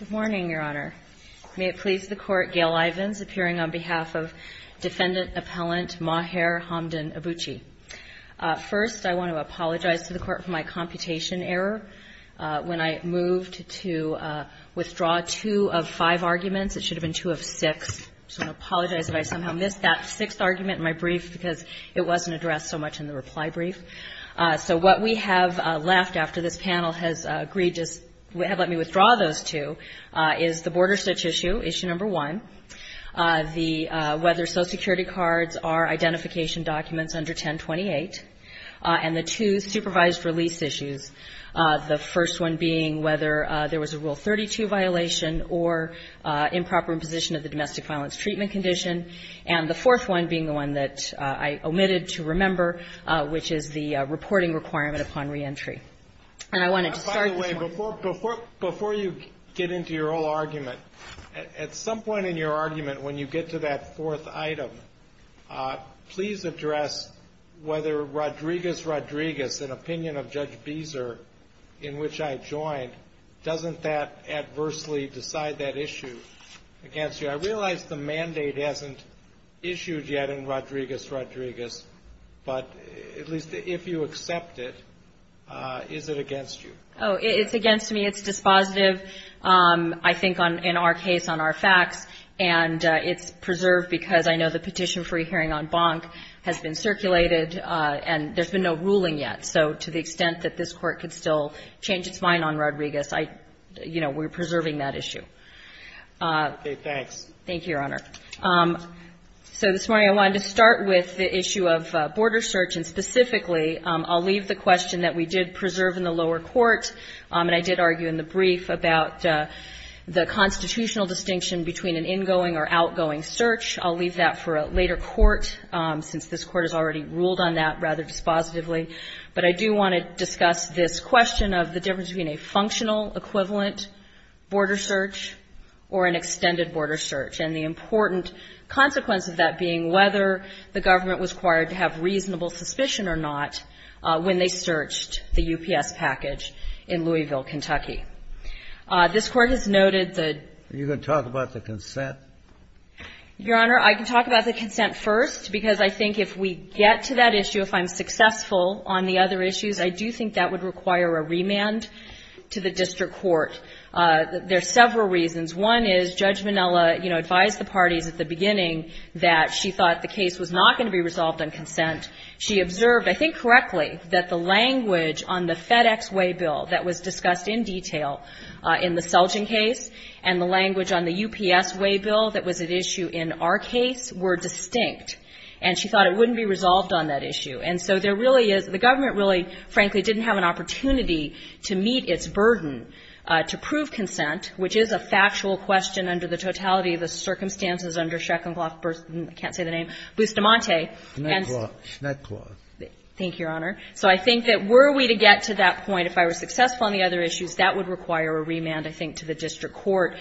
Good morning, Your Honor. May it please the Court, Gail Ivins, appearing on behalf of Defendant Appellant Maher Hamdan Abbouchi. First, I want to apologize to the Court for my computation error when I moved to withdraw two of five arguments. It should have been two of six, so I apologize if I somehow missed that sixth argument in my brief because it wasn't addressed so much in the reply brief. So what we have left after this panel has agreed to let me withdraw those two is the Border Search Issue, Issue No. 1, the whether Social Security cards are identification documents under 1028, and the two supervised release issues, the first one being whether there was a Rule 32 violation or improper imposition of the domestic violence treatment condition, and the fourth one being the one that I omitted to remember, which is the reporting requirement upon reentry. And I wanted to start with this one. Before you get into your whole argument, at some point in your argument, when you get to that fourth item, please address whether Rodriguez-Rodriguez, an opinion of Judge Beezer, in which I joined, doesn't that adversely decide that issue against you? I realize the mandate hasn't issued yet in Rodriguez-Rodriguez, but at least if you accept it, is it against you? Oh, it's against me. It's dispositive, I think, in our case, on our facts, and it's preserved because I know the petition for a hearing on Bonk has been circulated and there's been no ruling yet. So to the extent that this Court could still change its mind on Rodriguez, I, you know, we're preserving that issue. Okay, thanks. Thank you, Your Honor. So this morning I wanted to start with the issue of Border Search and specifically, I'll leave the question that we did preserve in the lower court. And I did argue in the brief about the constitutional distinction between an ingoing or outgoing search. I'll leave that for a later court, since this Court has already ruled on that rather dispositively. But I do want to discuss this question of the difference between a functional equivalent Border Search or an extended Border Search. And the important consequence of that being whether the government was required to have reasonable suspicion or not when they searched the UPS package in Louisville, Kentucky. This Court has noted the ---- Are you going to talk about the consent? Your Honor, I can talk about the consent first, because I think if we get to that issue, if I'm successful on the other issues, I do think that would require a remand to the district court. There are several reasons. One is Judge Minnella, you know, advised the parties at the beginning that she thought the case was not going to be resolved on consent. She observed, I think correctly, that the language on the FedEx waybill that was discussed in detail in the Selgin case and the language on the UPS waybill that was at issue in our case were distinct. And she thought it wouldn't be resolved on that issue. And so there really is the government really, frankly, didn't have an opportunity to meet its burden to prove consent, which is a factual question under the totality of the circumstances under Shecklenclough versus, I can't say the name, Bustamante. And so ---- Schnecklau, Schnecklau. Thank you, Your Honor. So I think that were we to get to that point, if I were successful on the other issues, that would require a remand, I think, to the district court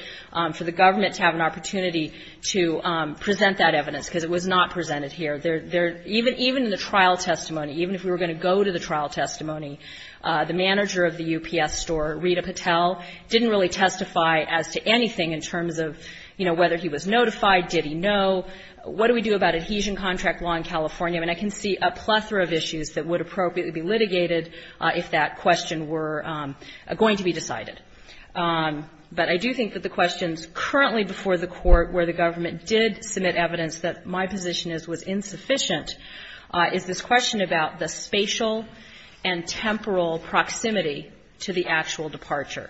for the government to have an opportunity to present that evidence, because it was not presented here. There are ---- even in the trial testimony, even if we were going to go to the trial testimony, the manager of the UPS store, Rita Patel, didn't really testify as to anything in terms of, you know, whether he was notified, did he know, what do we do about adhesion contract law in California. And I can see a plethora of issues that would appropriately be litigated if that question were going to be decided. But I do think that the questions currently before the Court where the government did submit evidence that my position is was insufficient is this question about the spatial and temporal proximity to the actual departure.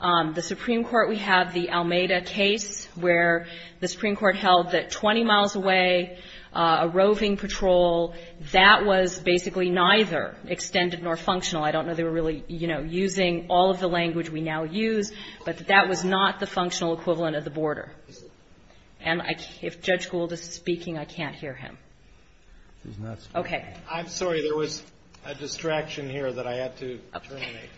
The Supreme Court, we have the Almeida case where the Supreme Court held that 20 miles away, a roving patrol, that was basically neither extended nor functional. I don't know they were really, you know, using all of the language we now use, but that was not the functional equivalent of the border. And if Judge Gould is speaking, I can't hear him. Okay. I'm sorry. There was a distraction here that I had to terminate.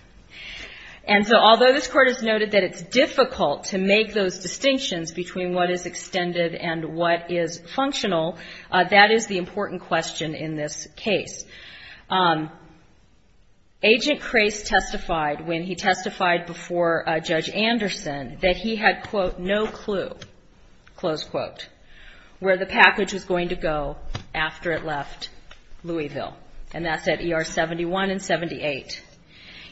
And so, although this Court has noted that it's difficult to make those distinctions between what is extended and what is functional, that is the important question in this case. Agent Crase testified when he testified before Judge Anderson that he had, quote, no clue, close quote, where the package was going to go after it left Louisville. And that's at ER 71 and 78.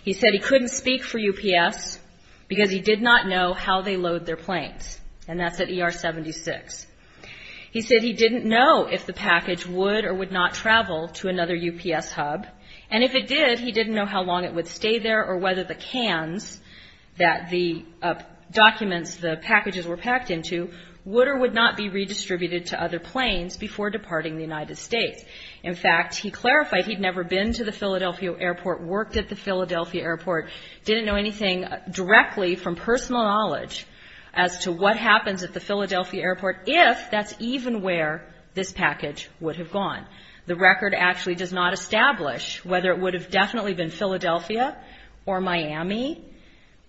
He said he couldn't speak for UPS because he did not know how they load their planes. And that's at ER 76. He said he didn't know if the package would or would not travel to another UPS hub, and if it did, he didn't know how long it would stay there or whether the cans that the documents, the packages were packed into, would or would not be redistributed to other planes before departing the United States. In fact, he clarified he'd never been to the Philadelphia airport, worked at the Philadelphia airport, didn't know anything directly from personal knowledge as to what happens at the Philadelphia airport if that's even where this package would have gone. The record actually does not establish whether it would have definitely been Philadelphia or Miami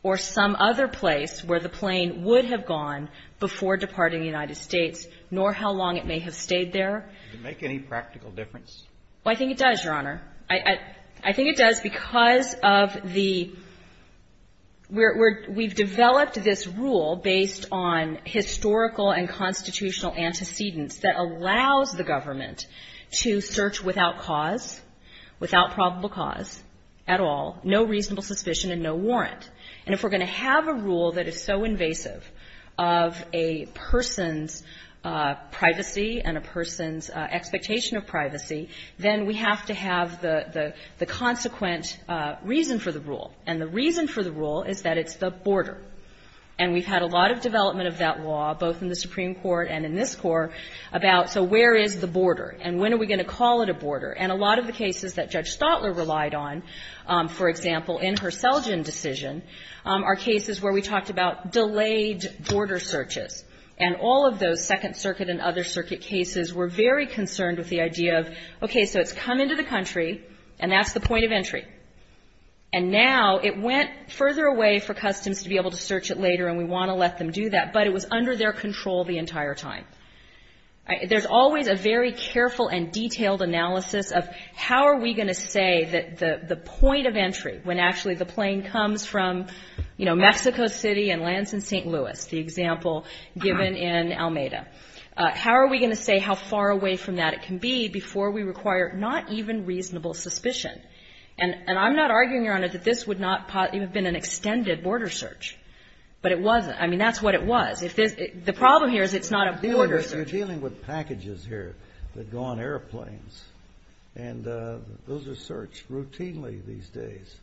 or some other place where the plane would have gone before departing the United States, nor how long it may have stayed there. Does it make any practical difference? Well, I think it does, Your Honor. I think it does because of the we're, we've developed this rule based on historical and constitutional antecedents that allows the government to search without cause, without probable cause at all, no reasonable suspicion and no warrant. And if we're going to have a rule that is so invasive of a person's privacy and a person's expectation of privacy, then we have to have the consequent reason for the rule. And the reason for the rule is that it's the border. And we've had a lot of development of that law, both in the Supreme Court and in this Court, about so where is the border and when are we going to call it a border? And a lot of the cases that Judge Stotler relied on, for example, in her Selgin decision, are cases where we talked about delayed border searches. And all of those Second Circuit and other circuit cases were very concerned with the idea of, okay, so it's come into the country and that's the point of entry. And now it went further away for Customs to be able to search it later and we want to let them do that, but it was under their control the entire time. There's always a very careful and detailed analysis of how are we going to say that the point of entry, when actually the plane comes from, you know, Mexico City and lands in St. Louis, the example given in Almeida, how are we going to say how far away from that it can be before we require not even reasonable suspicion? And I'm not arguing, Your Honor, that this would not have been an extended border search. But it wasn't. I mean, that's what it was. The problem here is it's not a border search. You're dealing with packages here that go on airplanes. And those are searched routinely these days.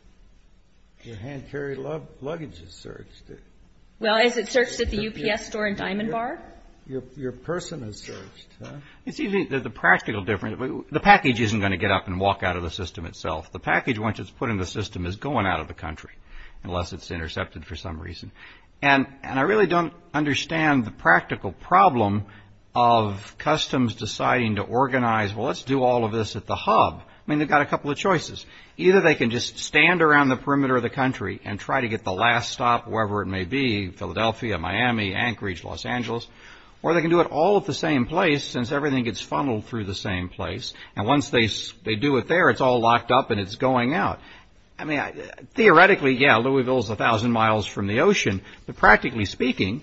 Your hand-carried luggage is searched. Well, is it searched at the UPS store in Diamond Bar? Your person is searched. It's easy that the practical difference, the package isn't going to get up and walk out of the system itself. The package, once it's put in the system, is going out of the country unless it's intercepted for some reason. And I really don't understand the practical problem of Customs deciding to organize, well, let's do all of this at the hub. I mean, they've got a couple of choices. Either they can just stand around the perimeter of the country and try to get the last stop wherever it may be, Philadelphia, Miami, Anchorage, Los Angeles. Or they can do it all at the same place since everything gets funneled through the same place. And once they do it there, it's all locked up and it's going out. I mean, theoretically, yeah, Louisville is 1,000 miles from the ocean, but practically speaking,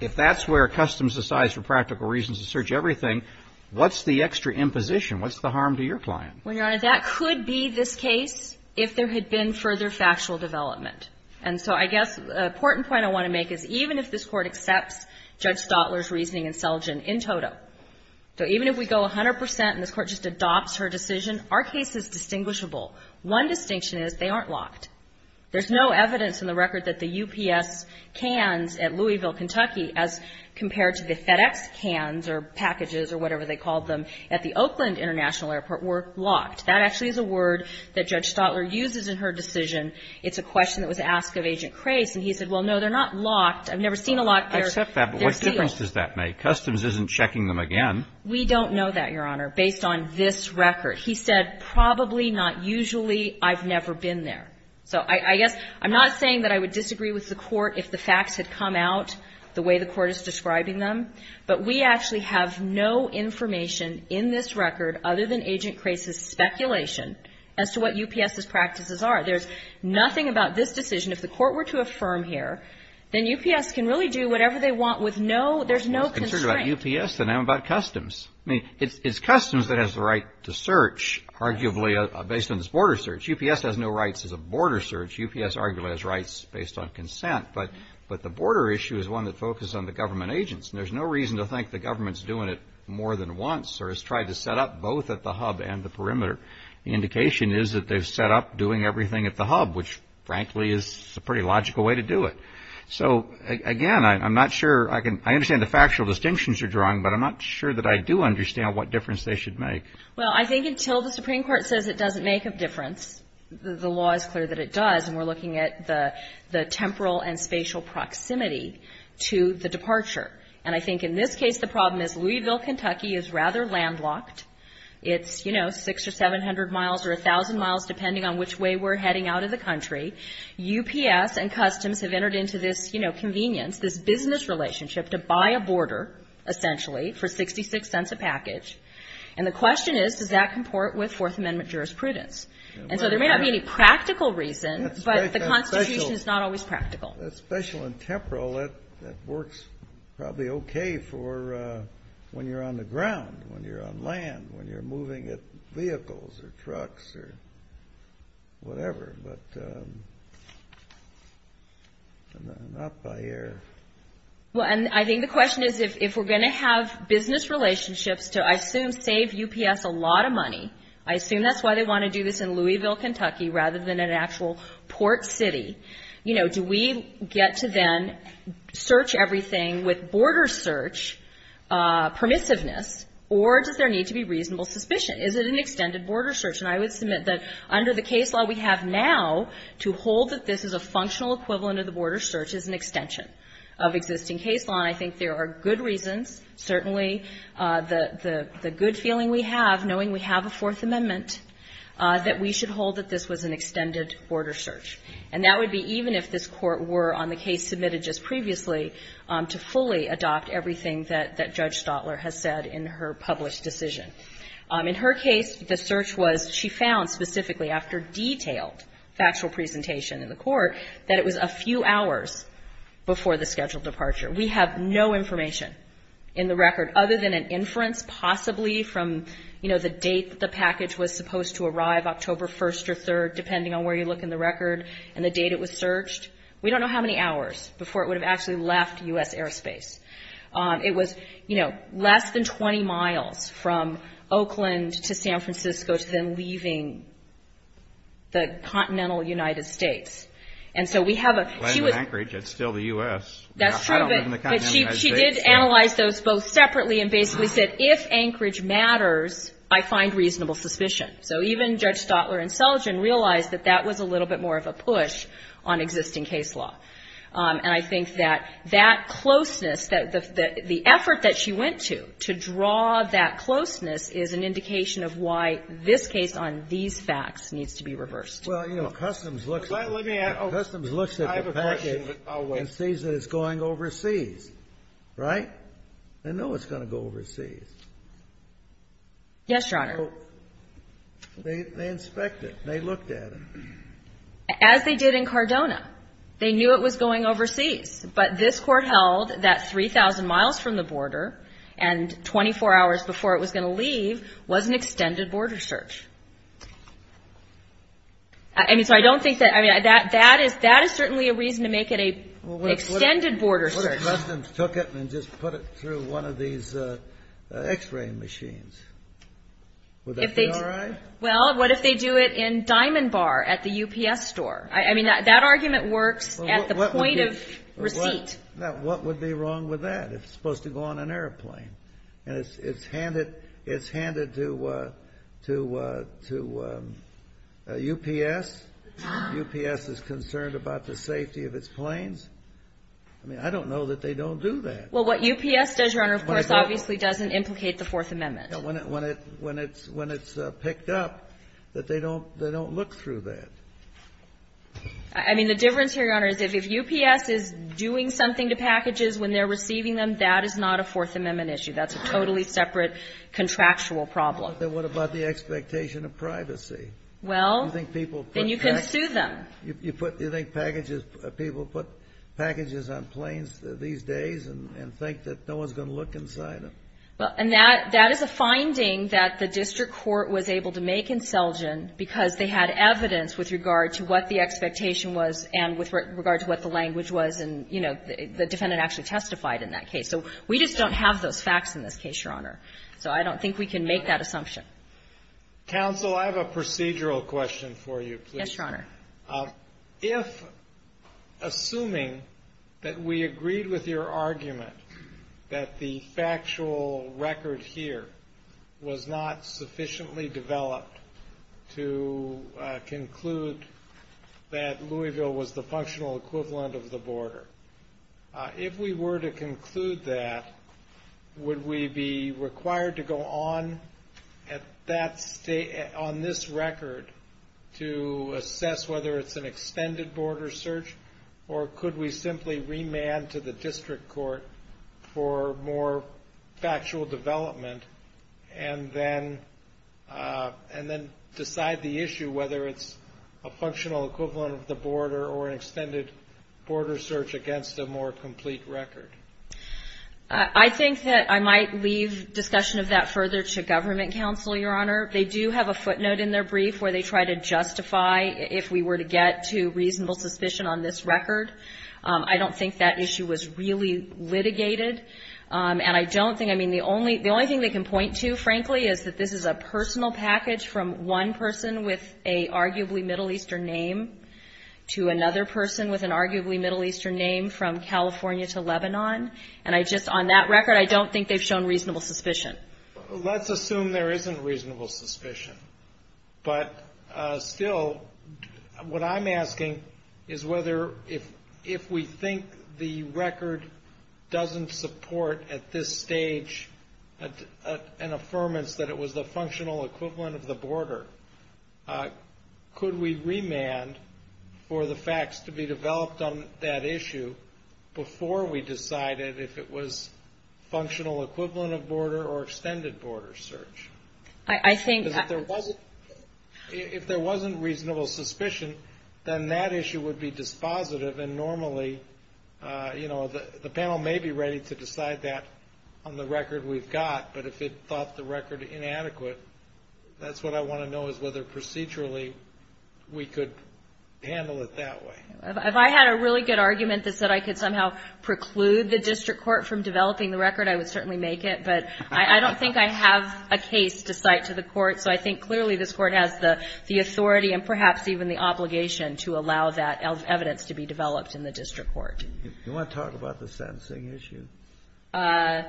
if that's where Customs decides for practical reasons to search everything, what's the extra imposition? What's the harm to your client? Well, Your Honor, that could be this case if there had been further factual development. And so I guess the important point I want to make is even if this Court accepts Judge Stotler's reasoning in Selgin in toto, so even if we go 100% and this Court just adopts her decision, our case is distinguishable. One distinction is they aren't locked. There's no evidence in the record that the UPS cans at Louisville, Kentucky as compared to the FedEx cans or packages or whatever they called them at the Oakland International Airport were locked. That actually is a word that Judge Stotler uses in her decision. It's a question that was asked of Agent Krase, and he said, well, no, they're not locked. I've never seen a lock. They're sealed. I accept that, but what difference does that make? Customs isn't checking them again. We don't know that, Your Honor, based on this record. He said, probably, not usually, I've never been there. So I guess I'm not saying that I would disagree with the Court if the facts had come out the way the Court is describing them, but we actually have no information in this record other than Agent Krase's speculation as to what UPS's practices are. There's nothing about this decision. If the Court were to affirm here, then UPS can really do whatever they want with no, there's no constraint. I was concerned about UPS, and now I'm about Customs. It's Customs that has the right to search, arguably, based on this border search. UPS has no rights as a border search. UPS arguably has rights based on consent, but the border issue is one that focuses on the government agents, and there's no reason to think the government's doing it more than once or has tried to set up both at the hub and the perimeter. The indication is that they've set up doing everything at the hub, which, frankly, is a pretty logical way to do it. So again, I'm not sure, I understand the factual distinctions you're drawing, but I'm not sure that I do understand what difference they should make. Well, I think until the Supreme Court says it doesn't make a difference, the law is clear that it does, and we're looking at the temporal and spatial proximity to the departure. And I think in this case, the problem is Louisville, Kentucky is rather landlocked. It's, you know, 600 or 700 miles or 1,000 miles, depending on which way we're heading out of the country. UPS and Customs have entered into this, you know, convenience, this business relationship to buy a border, essentially, for 66 cents a package. And the question is, does that comport with Fourth Amendment jurisprudence? And so there may not be any practical reason, but the Constitution is not always practical. That spatial and temporal, that works probably okay for when you're on the ground, when you're on land, when you're moving vehicles or trucks or whatever, but not by air. Well, and I think the question is, if we're going to have business relationships to I assume save UPS a lot of money, I assume that's why they want to do this in Louisville, Kentucky, rather than an actual port city, you know, do we get to then search everything with border search permissiveness, or does there need to be reasonable suspicion? Is it an extended border search? And I would submit that under the case law we have now, to hold that this is a functional equivalent of the border search is an extension of existing case law. And I think there are good reasons, certainly the good feeling we have, knowing we have a Fourth Amendment, that we should hold that this was an extended border search. And that would be even if this court were on the case submitted just previously to fully adopt everything that Judge Stotler has said in her published decision. In her case, the search was, she found specifically after detailed factual presentation in the court, that it was a few hours before the scheduled departure. We have no information in the record other than an inference possibly from, you know, the date the package was supposed to arrive, October 1st or 3rd, depending on where you look in the record, and the date it was searched. We don't know how many hours before it would have actually left U.S. airspace. It was, you know, less than 20 miles from Oakland to San Francisco, to then leaving the continental United States. And so we have a- She was- I live in Anchorage. It's still the U.S. That's true, but she did analyze those both separately and basically said, if Anchorage matters, I find reasonable suspicion. So even Judge Stotler and Seligen realized that that was a little bit more of a push on existing case law. And I think that that closeness, that the effort that she went to, to draw that closeness, is an indication of why this case on these facts needs to be reversed. Well, you know, Customs looks at the package and sees that it's going overseas, right? Yes, Your Honor. So they inspect it, they looked at it. As they did in Cardona. They knew it was going overseas, but this Court held that 3,000 miles from the border and 24 hours before it was going to leave was an extended border search. I mean, so I don't think that- I mean, that is certainly a reason to make it an extended border search. What if Customs took it and just put it through one of these X-ray machines? Would that be all right? Well, what if they do it in Diamond Bar at the UPS store? I mean, that argument works at the point of receipt. Now, what would be wrong with that if it's supposed to go on an airplane? And it's handed to UPS? UPS is concerned about the safety of its planes? I mean, I don't know that they don't do that. Well, what UPS does, Your Honor, of course, obviously doesn't implicate the Fourth Amendment. When it's picked up, that they don't look through that. I mean, the difference here, Your Honor, is if UPS is doing something to packages when they're receiving them, that is not a Fourth Amendment issue. That's a totally separate contractual problem. Well, then what about the expectation of privacy? Well, then you can sue them. You think people put packages on planes these days and think that no one's going to look inside them? Well, and that is a finding that the district court was able to make insurgent because they had evidence with regard to what the expectation was and with regard to what the language was. And, you know, the defendant actually testified in that case. So we just don't have those facts in this case, Your Honor. So I don't think we can make that assumption. Yes, Your Honor. If, assuming that we agreed with your argument that the factual record here was not sufficiently developed to conclude that Louisville was the functional equivalent of the border, if we were to conclude that, would we be required to go on at that state, on this record, to assess whether it's an extended border search, or could we simply remand to the district court for more factual development and then decide the issue whether it's a functional equivalent of the border or an extended border search against a more complete record? I think that I might leave discussion of that further to government counsel, Your Honor. They do have a footnote in their brief where they try to justify if we were to get to reasonable suspicion on this record. I don't think that issue was really litigated. And I don't think the only thing they can point to, frankly, is that this is a personal package from one person with an arguably Middle Eastern name to another person with an arguably Middle Eastern name from California to Lebanon. And I just, on that record, I don't think they've shown reasonable suspicion. Let's assume there isn't reasonable suspicion. But still, what I'm asking is whether, if we think the record doesn't support at this stage an affirmance that it was the functional equivalent of the border, could we remand for the facts to be developed on that issue before we decided if it was functional equivalent of border or extended border search? Because if there wasn't reasonable suspicion, then that issue would be dispositive. And normally, you know, the panel may be ready to decide that on the record we've got. But if it thought the record inadequate, that's what I want to know is whether procedurally we could handle it that way. If I had a really good argument that said I could somehow preclude the district court from developing the record, I would certainly make it. But I don't think I have a case to cite to the Court. So I think clearly this Court has the authority and perhaps even the obligation to allow that evidence to be developed in the district court. Kennedy. Do you want to talk about the sentencing issue? How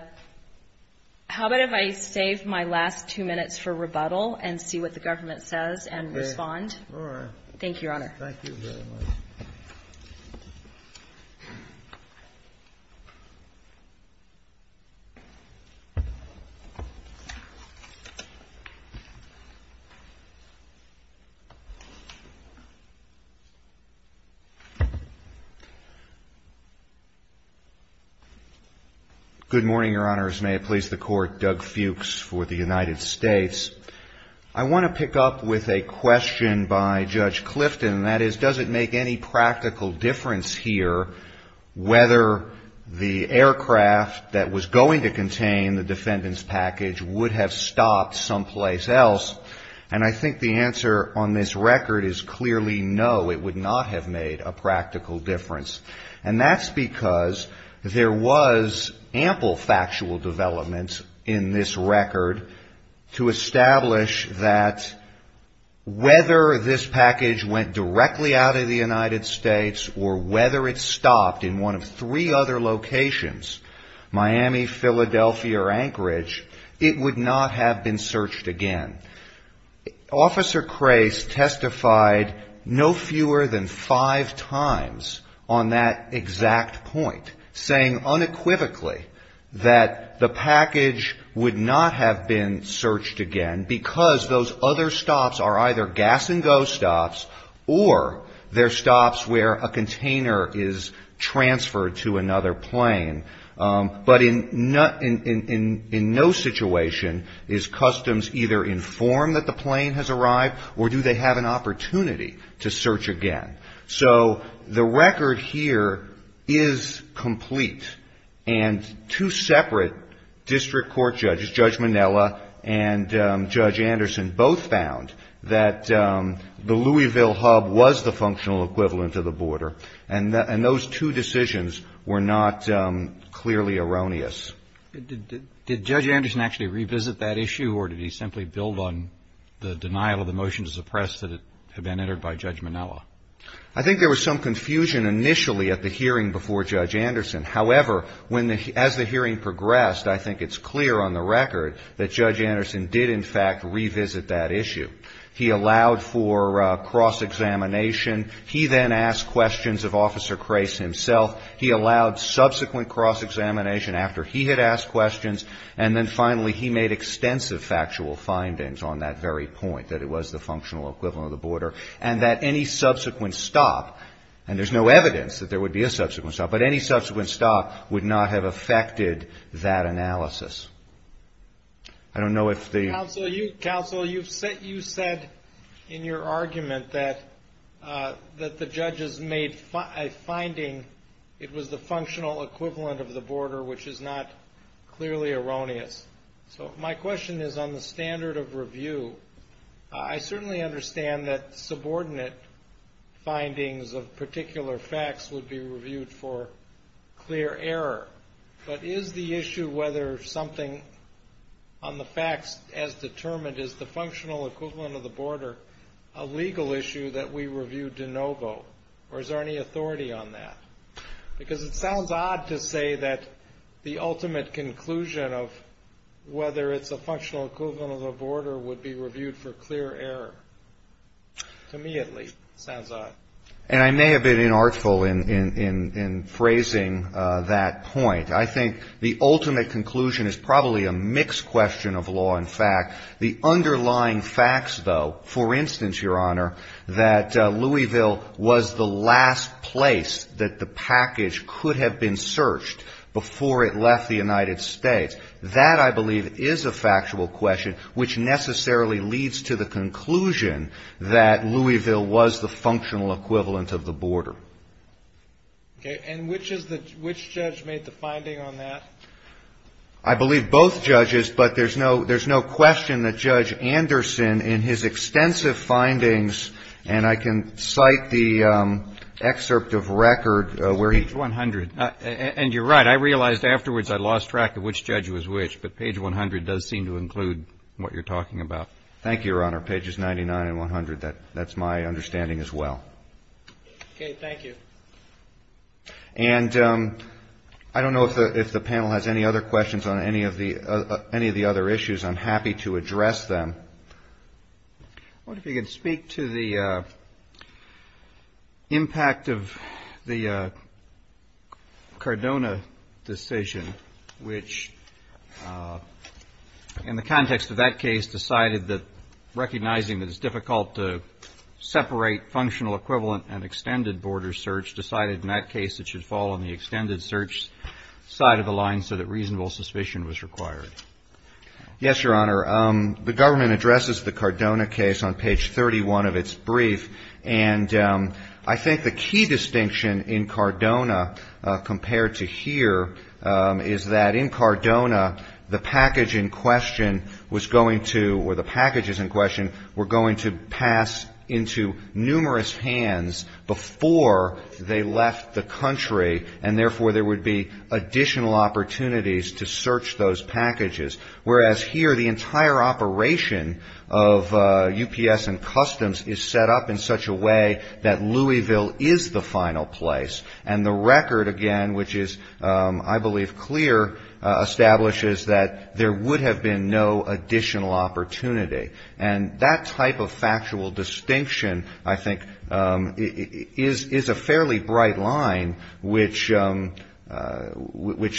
about if I save my last two minutes for rebuttal and see what the government says and respond? All right. Thank you, Your Honor. Thank you very much. Good morning, Your Honors. May it please the Court. Doug Fuchs for the United States. I want to pick up with a question by Judge Clifton, and that is does it make any practical difference here whether the aircraft that was going to contain the defendant's package would have stopped someplace else? And I think the answer on this record is clearly no, it would not have made a practical difference. And that's because there was ample factual development in this record to establish that whether this package went directly out of the United States or whether it stopped in one of three other locations, Miami, Philadelphia, or Anchorage, it would not have been searched again. Officer Crace testified no fewer than five times on that exact point, saying unequivocally that the package would not have been searched again because those other stops are either gas and go stops or they're stops where a container is formed that the plane has arrived, or do they have an opportunity to search again? So the record here is complete. And two separate district court judges, Judge Minella and Judge Anderson, both found that the Louisville hub was the functional equivalent of the border. And those two decisions were not clearly erroneous. Did Judge Anderson actually revisit that issue or did he simply build on the denial of the motion to suppress that had been entered by Judge Minella? I think there was some confusion initially at the hearing before Judge Anderson. However, as the hearing progressed, I think it's clear on the record that Judge Anderson did, in fact, revisit that issue. He allowed for cross-examination. He then asked questions of Officer Crace himself. He allowed subsequent cross-examination after he had asked questions. And then finally, he made extensive factual findings on that very point, that it was the functional equivalent of the border, and that any subsequent stop, and there's no evidence that there would be a subsequent stop, but any subsequent stop would not have affected that analysis. I don't know if the... Counsel, you said in your argument that the judges made a finding, it was the functional equivalent of the border, which is not clearly erroneous. So my question is on the standard of review, I certainly understand that subordinate findings of particular facts would be reviewed for clear error. But is the issue whether something on the facts as determined is the functional equivalent of the border a legal issue that we review de novo, or is there any authority on that? Because it sounds odd to say that the ultimate conclusion of whether it's a functional equivalent of the border would be reviewed for clear error. To me, at least, it sounds odd. And I may have been inartful in phrasing that point. I think the ultimate conclusion is probably a mixed question of law and fact. The underlying facts, though, for instance, Your Honor, that Louisville was the last place that the package could have been searched before it left the United States, that, I believe, is a factual question, which necessarily leads to the conclusion that Louisville was the functional equivalent of the border. Okay. And which judge made the finding on that? I believe both judges, but there's no question that Judge Anderson, in his extensive findings, and I can cite the excerpt of record where he Page 100. And you're right. I realized afterwards I lost track of which judge was which, but page 100 does seem to include what you're talking about. Thank you, Your Honor. Pages 99 and 100, that's my understanding as well. Okay. Thank you. And I don't know if the panel has any other questions on any of the other issues. I'm happy to address them. I wonder if you could speak to the impact of the Cardona decision, which in the context of that case, decided that recognizing that it's difficult to separate functional equivalent and extended border search, decided in that case it should fall on the extended search side of the line so that reasonable suspicion was required. Yes, Your Honor. The government addresses the Cardona case on page 31 of its brief, and I think the key distinction in Cardona compared to here is that in Cardona, the package in question was going to, or the packages in question, were going to pass into numerous hands before they left the country, and therefore, there would be additional opportunities to search those packages. Whereas here, the entire operation of UPS and customs is set up in such a way that Louisville is the final place, and the record, again, which is, I believe, clear, establishes that there would have been no additional opportunity. And that type of factual distinction, I think, is a fairly bright line which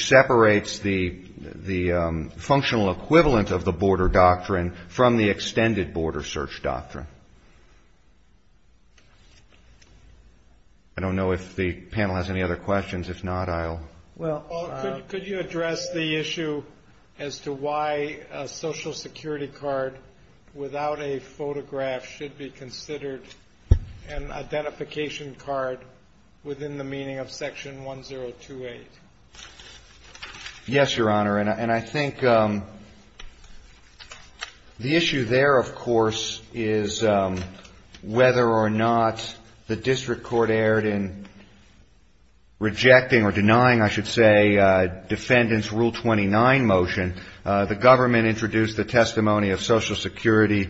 separates the functional equivalent of the border doctrine from the extended border search doctrine. I don't know if the panel has any other questions. If not, I'll... Well, could you address the issue as to why a Social Security card without a photograph should be considered an identification card within the meaning of Section 1028? Yes, Your Honor. And I think the issue there, of course, is whether or not the district court erred in rejecting or denying, I should say, Defendant's Rule 29 motion. The government introduced the testimony of Social Security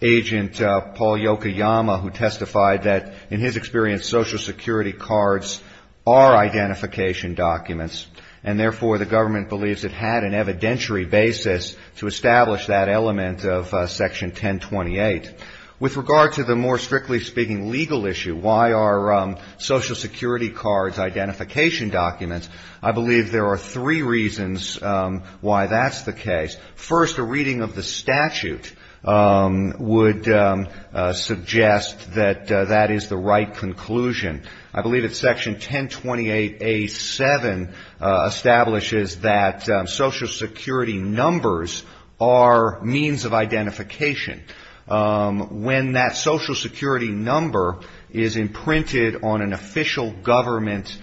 agent Paul Yokoyama, who testified that, in his experience, Social Security cards are identification documents. And therefore, the government believes it had an evidentiary basis to establish that element of Section 1028. With regard to the, more strictly speaking, legal issue, why are Social Security cards identification documents? I believe there are three reasons why that's the case. First, a reading of the statute would suggest that that is the right conclusion. I believe that Section 1028A7 establishes that Social Security numbers are means of identification. When that Social Security number is imprinted on an official government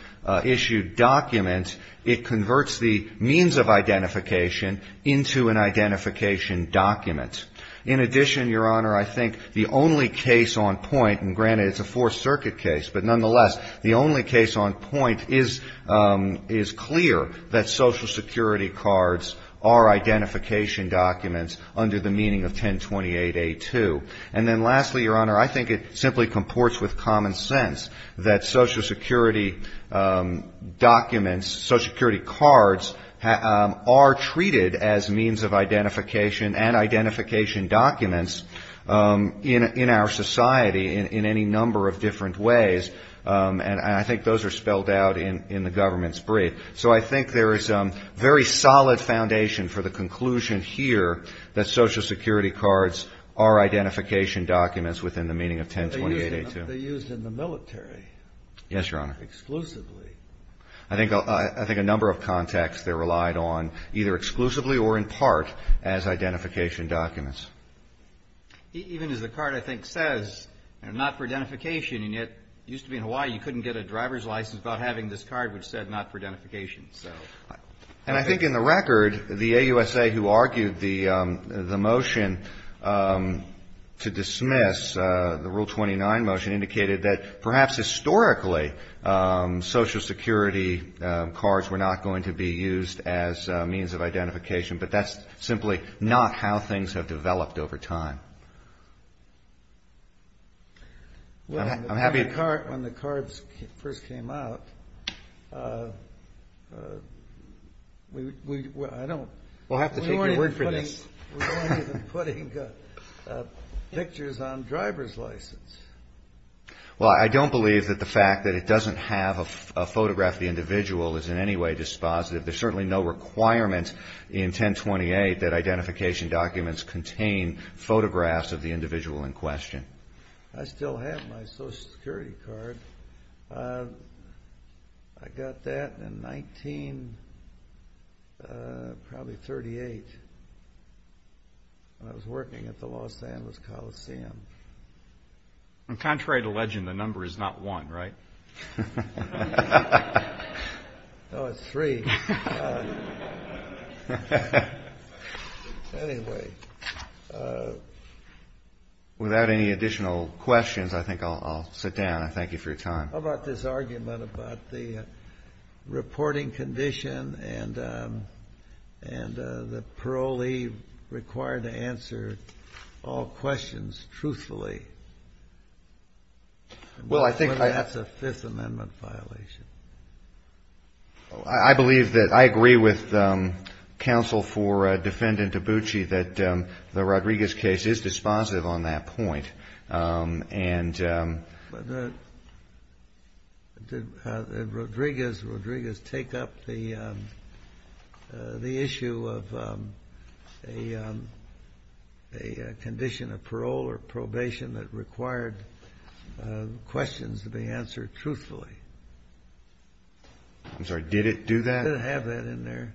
issued document, it converts the means of identification into an identification document. In addition, Your Honor, I think the only case on point, and granted it's a the only case on point, is clear that Social Security cards are identification documents under the meaning of 1028A2. And then, lastly, Your Honor, I think it simply comports with common sense that Social Security documents, Social Security cards, are treated as means of identification and identification documents in our society in any number of different ways. And I think those are spelled out in the government's brief. So I think there is very solid foundation for the conclusion here that Social Security cards are identification documents within the meaning of 1028A2. But they're used in the military. Yes, Your Honor. Exclusively. I think a number of contexts they're relied on, either exclusively or in part, as identification documents. Even as the card, I think, says, not for identification, and yet it used to be in Hawaii, you couldn't get a driver's license without having this card which said not for identification. And I think in the record, the AUSA who argued the motion to dismiss, the Rule 29 motion, indicated that perhaps historically Social Security cards were not going to be used as means of identification, but that's simply not how things have developed over time. When the cards first came out, we weren't even putting pictures on driver's license. Well, I don't believe that the fact that it doesn't have a photograph of the individual is in any way dispositive. There's certainly no requirement in 1028 that identification documents come with photographs of the individual in question. I still have my Social Security card. I got that in 1938 when I was working at the Los Angeles Coliseum. Contrary to legend, the number is not one, right? No, it's three. Anyway. Without any additional questions, I think I'll sit down. I thank you for your time. How about this argument about the reporting condition and the parolee required to answer all questions truthfully? Well, I think I... When that's a Fifth Amendment violation. I believe that I agree with counsel for Defendant Dabuchi that the Rodriguez case is dispositive on that point. And... Did Rodriguez take up the issue of a condition of parole or probation that I'm sorry, did it do that? Did it have that in there?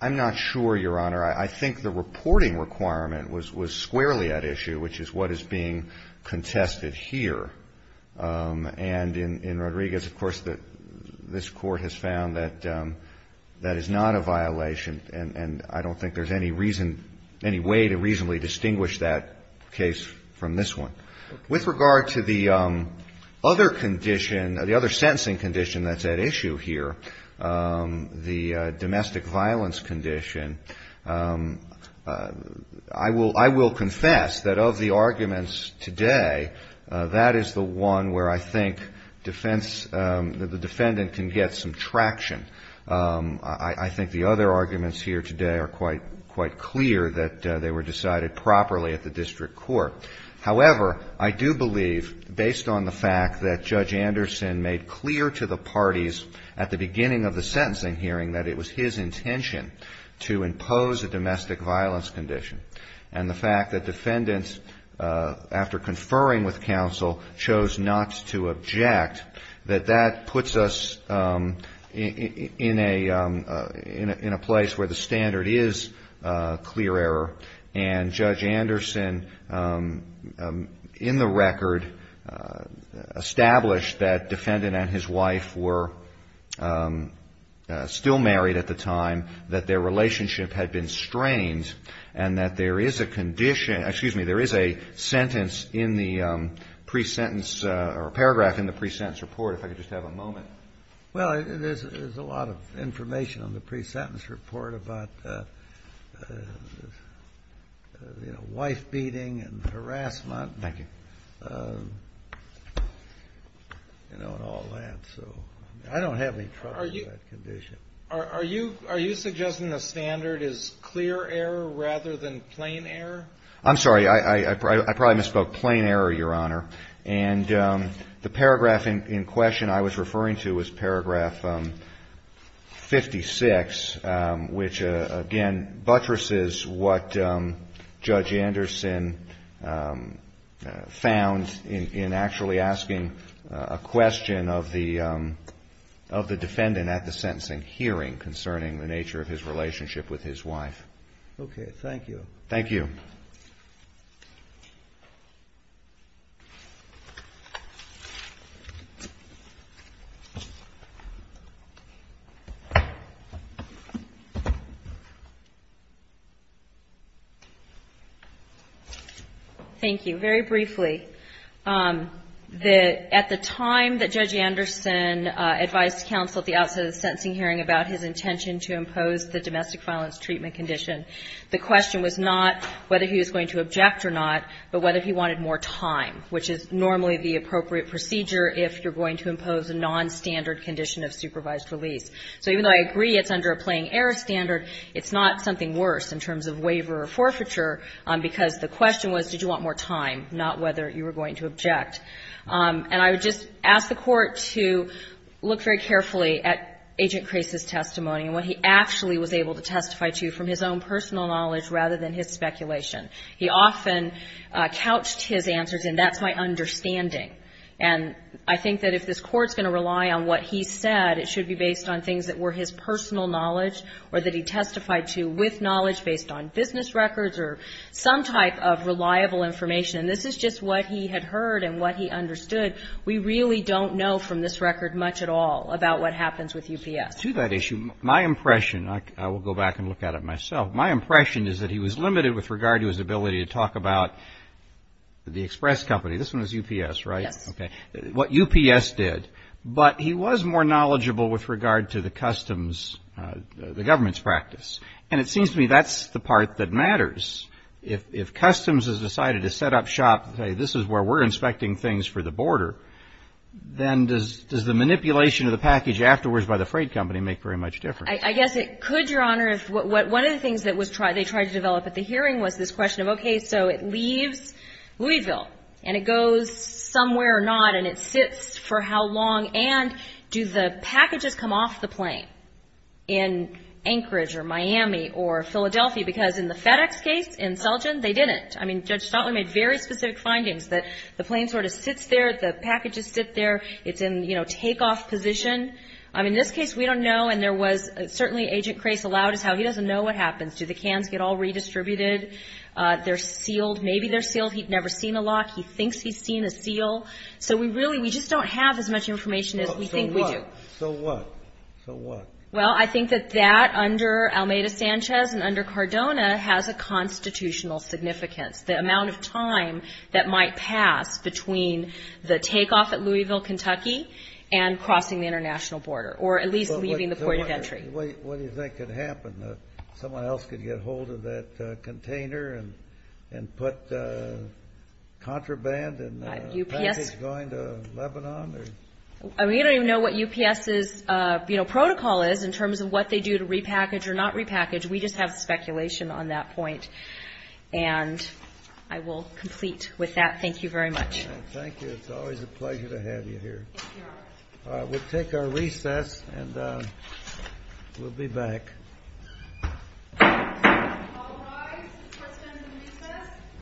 I'm not sure, Your Honor. I think the reporting requirement was squarely at issue, which is what is being contested here. And in Rodriguez, of course, this Court has found that that is not a violation, and I don't think there's any reason, any way to reasonably distinguish that case from this one. With regard to the other condition, the other sentencing condition that's at issue here, the domestic violence condition, I will confess that of the arguments today, that is the one where I think defense, the defendant can get some traction. I think the other arguments here today are quite clear that they were decided properly at the district court. However, I do believe, based on the fact that Judge Anderson made clear to the parties at the beginning of the sentencing hearing that it was his intention to impose a domestic violence condition, and the fact that defendants, after conferring with counsel, chose not to object, that that puts us in a place where the standard is clear error, and Judge Anderson, in the record, established that defendant and his wife were still married at the time, that their relationship had been strained, and that there is a condition, excuse me, there is a sentence in the pre-sentence or paragraph in the pre-sentence report. If I could just have a moment. Well, there's a lot of information on the pre-sentence report about, you know, wife beating and harassment. Thank you. You know, and all that. So I don't have any trouble with that condition. Are you suggesting the standard is clear error rather than plain error? I'm sorry. I probably misspoke. Plain error, Your Honor. And the paragraph in question I was referring to was paragraph 56, which, again, buttresses what Judge Anderson found in actually asking a question of the defendant at the sentencing hearing concerning the nature of his relationship with his wife. Okay. Thank you. Thank you. Thank you. Thank you. Very briefly, at the time that Judge Anderson advised counsel at the outset of the sentencing hearing about his intention to impose the domestic violence treatment condition, the question was not whether he was going to object or not, but whether he wanted more time, which is normally the appropriate procedure if you're going to impose a nonstandard condition of supervised release. So even though I agree it's under a plain error standard, it's not something worse in terms of waiver or forfeiture, because the question was, did you want more time, not whether you were going to object. And I would just ask the Court to look very carefully at Agent Crase's testimony and what he actually was able to testify to from his own personal knowledge rather than his speculation. He often couched his answers in, that's my understanding. And I think that if this Court's going to rely on what he said, it should be based on things that were his personal knowledge or that he testified to with knowledge based on business records or some type of reliable information. And this is just what he had heard and what he understood. We really don't know from this record much at all about what happens with UPS. To that issue, my impression, I will go back and look at it myself, my impression is that he was limited with regard to his ability to talk about the express company. This one is UPS, right? Yes. Okay. What UPS did. But he was more knowledgeable with regard to the customs, the government's practice. And it seems to me that's the part that matters. If customs has decided to set up shop and say, this is where we're inspecting things for the border, then does the manipulation of the package afterwards by the freight company make very much difference? I guess it could, Your Honor. One of the things they tried to develop at the hearing was this question of, okay, so it leaves Louisville, and it goes somewhere or not, and it sits for how long, and do the packages come off the plane in Anchorage or Miami or Philadelphia? Because in the FedEx case, in Selgin, they didn't. I mean, Judge Stotling made very specific findings that the plane sort of sits there, the packages sit there, it's in, you know, takeoff position. I mean, in this case, we don't know, and there was certainly, Agent Crace allowed us how he doesn't know what happens. Do the cans get all redistributed? They're sealed. Maybe they're sealed. He'd never seen a lock. He thinks he's seen a seal. So we really, we just don't have as much information as we think we do. So what? So what? Well, I think that that, under Almeida-Sanchez and under Cardona, has a constitutional significance. The amount of time that might pass between the takeoff at Louisville, Kentucky, and crossing the international border, or at least leaving the point of entry. What do you think could happen? Someone else could get hold of that container and put contraband and package going to Lebanon? We don't even know what UPS's, you know, protocol is in terms of what they do to repackage or not repackage. We just have speculation on that point. And I will complete with that. Thank you very much. Thank you. It's always a pleasure to have you here. We'll take our recess and we'll be back.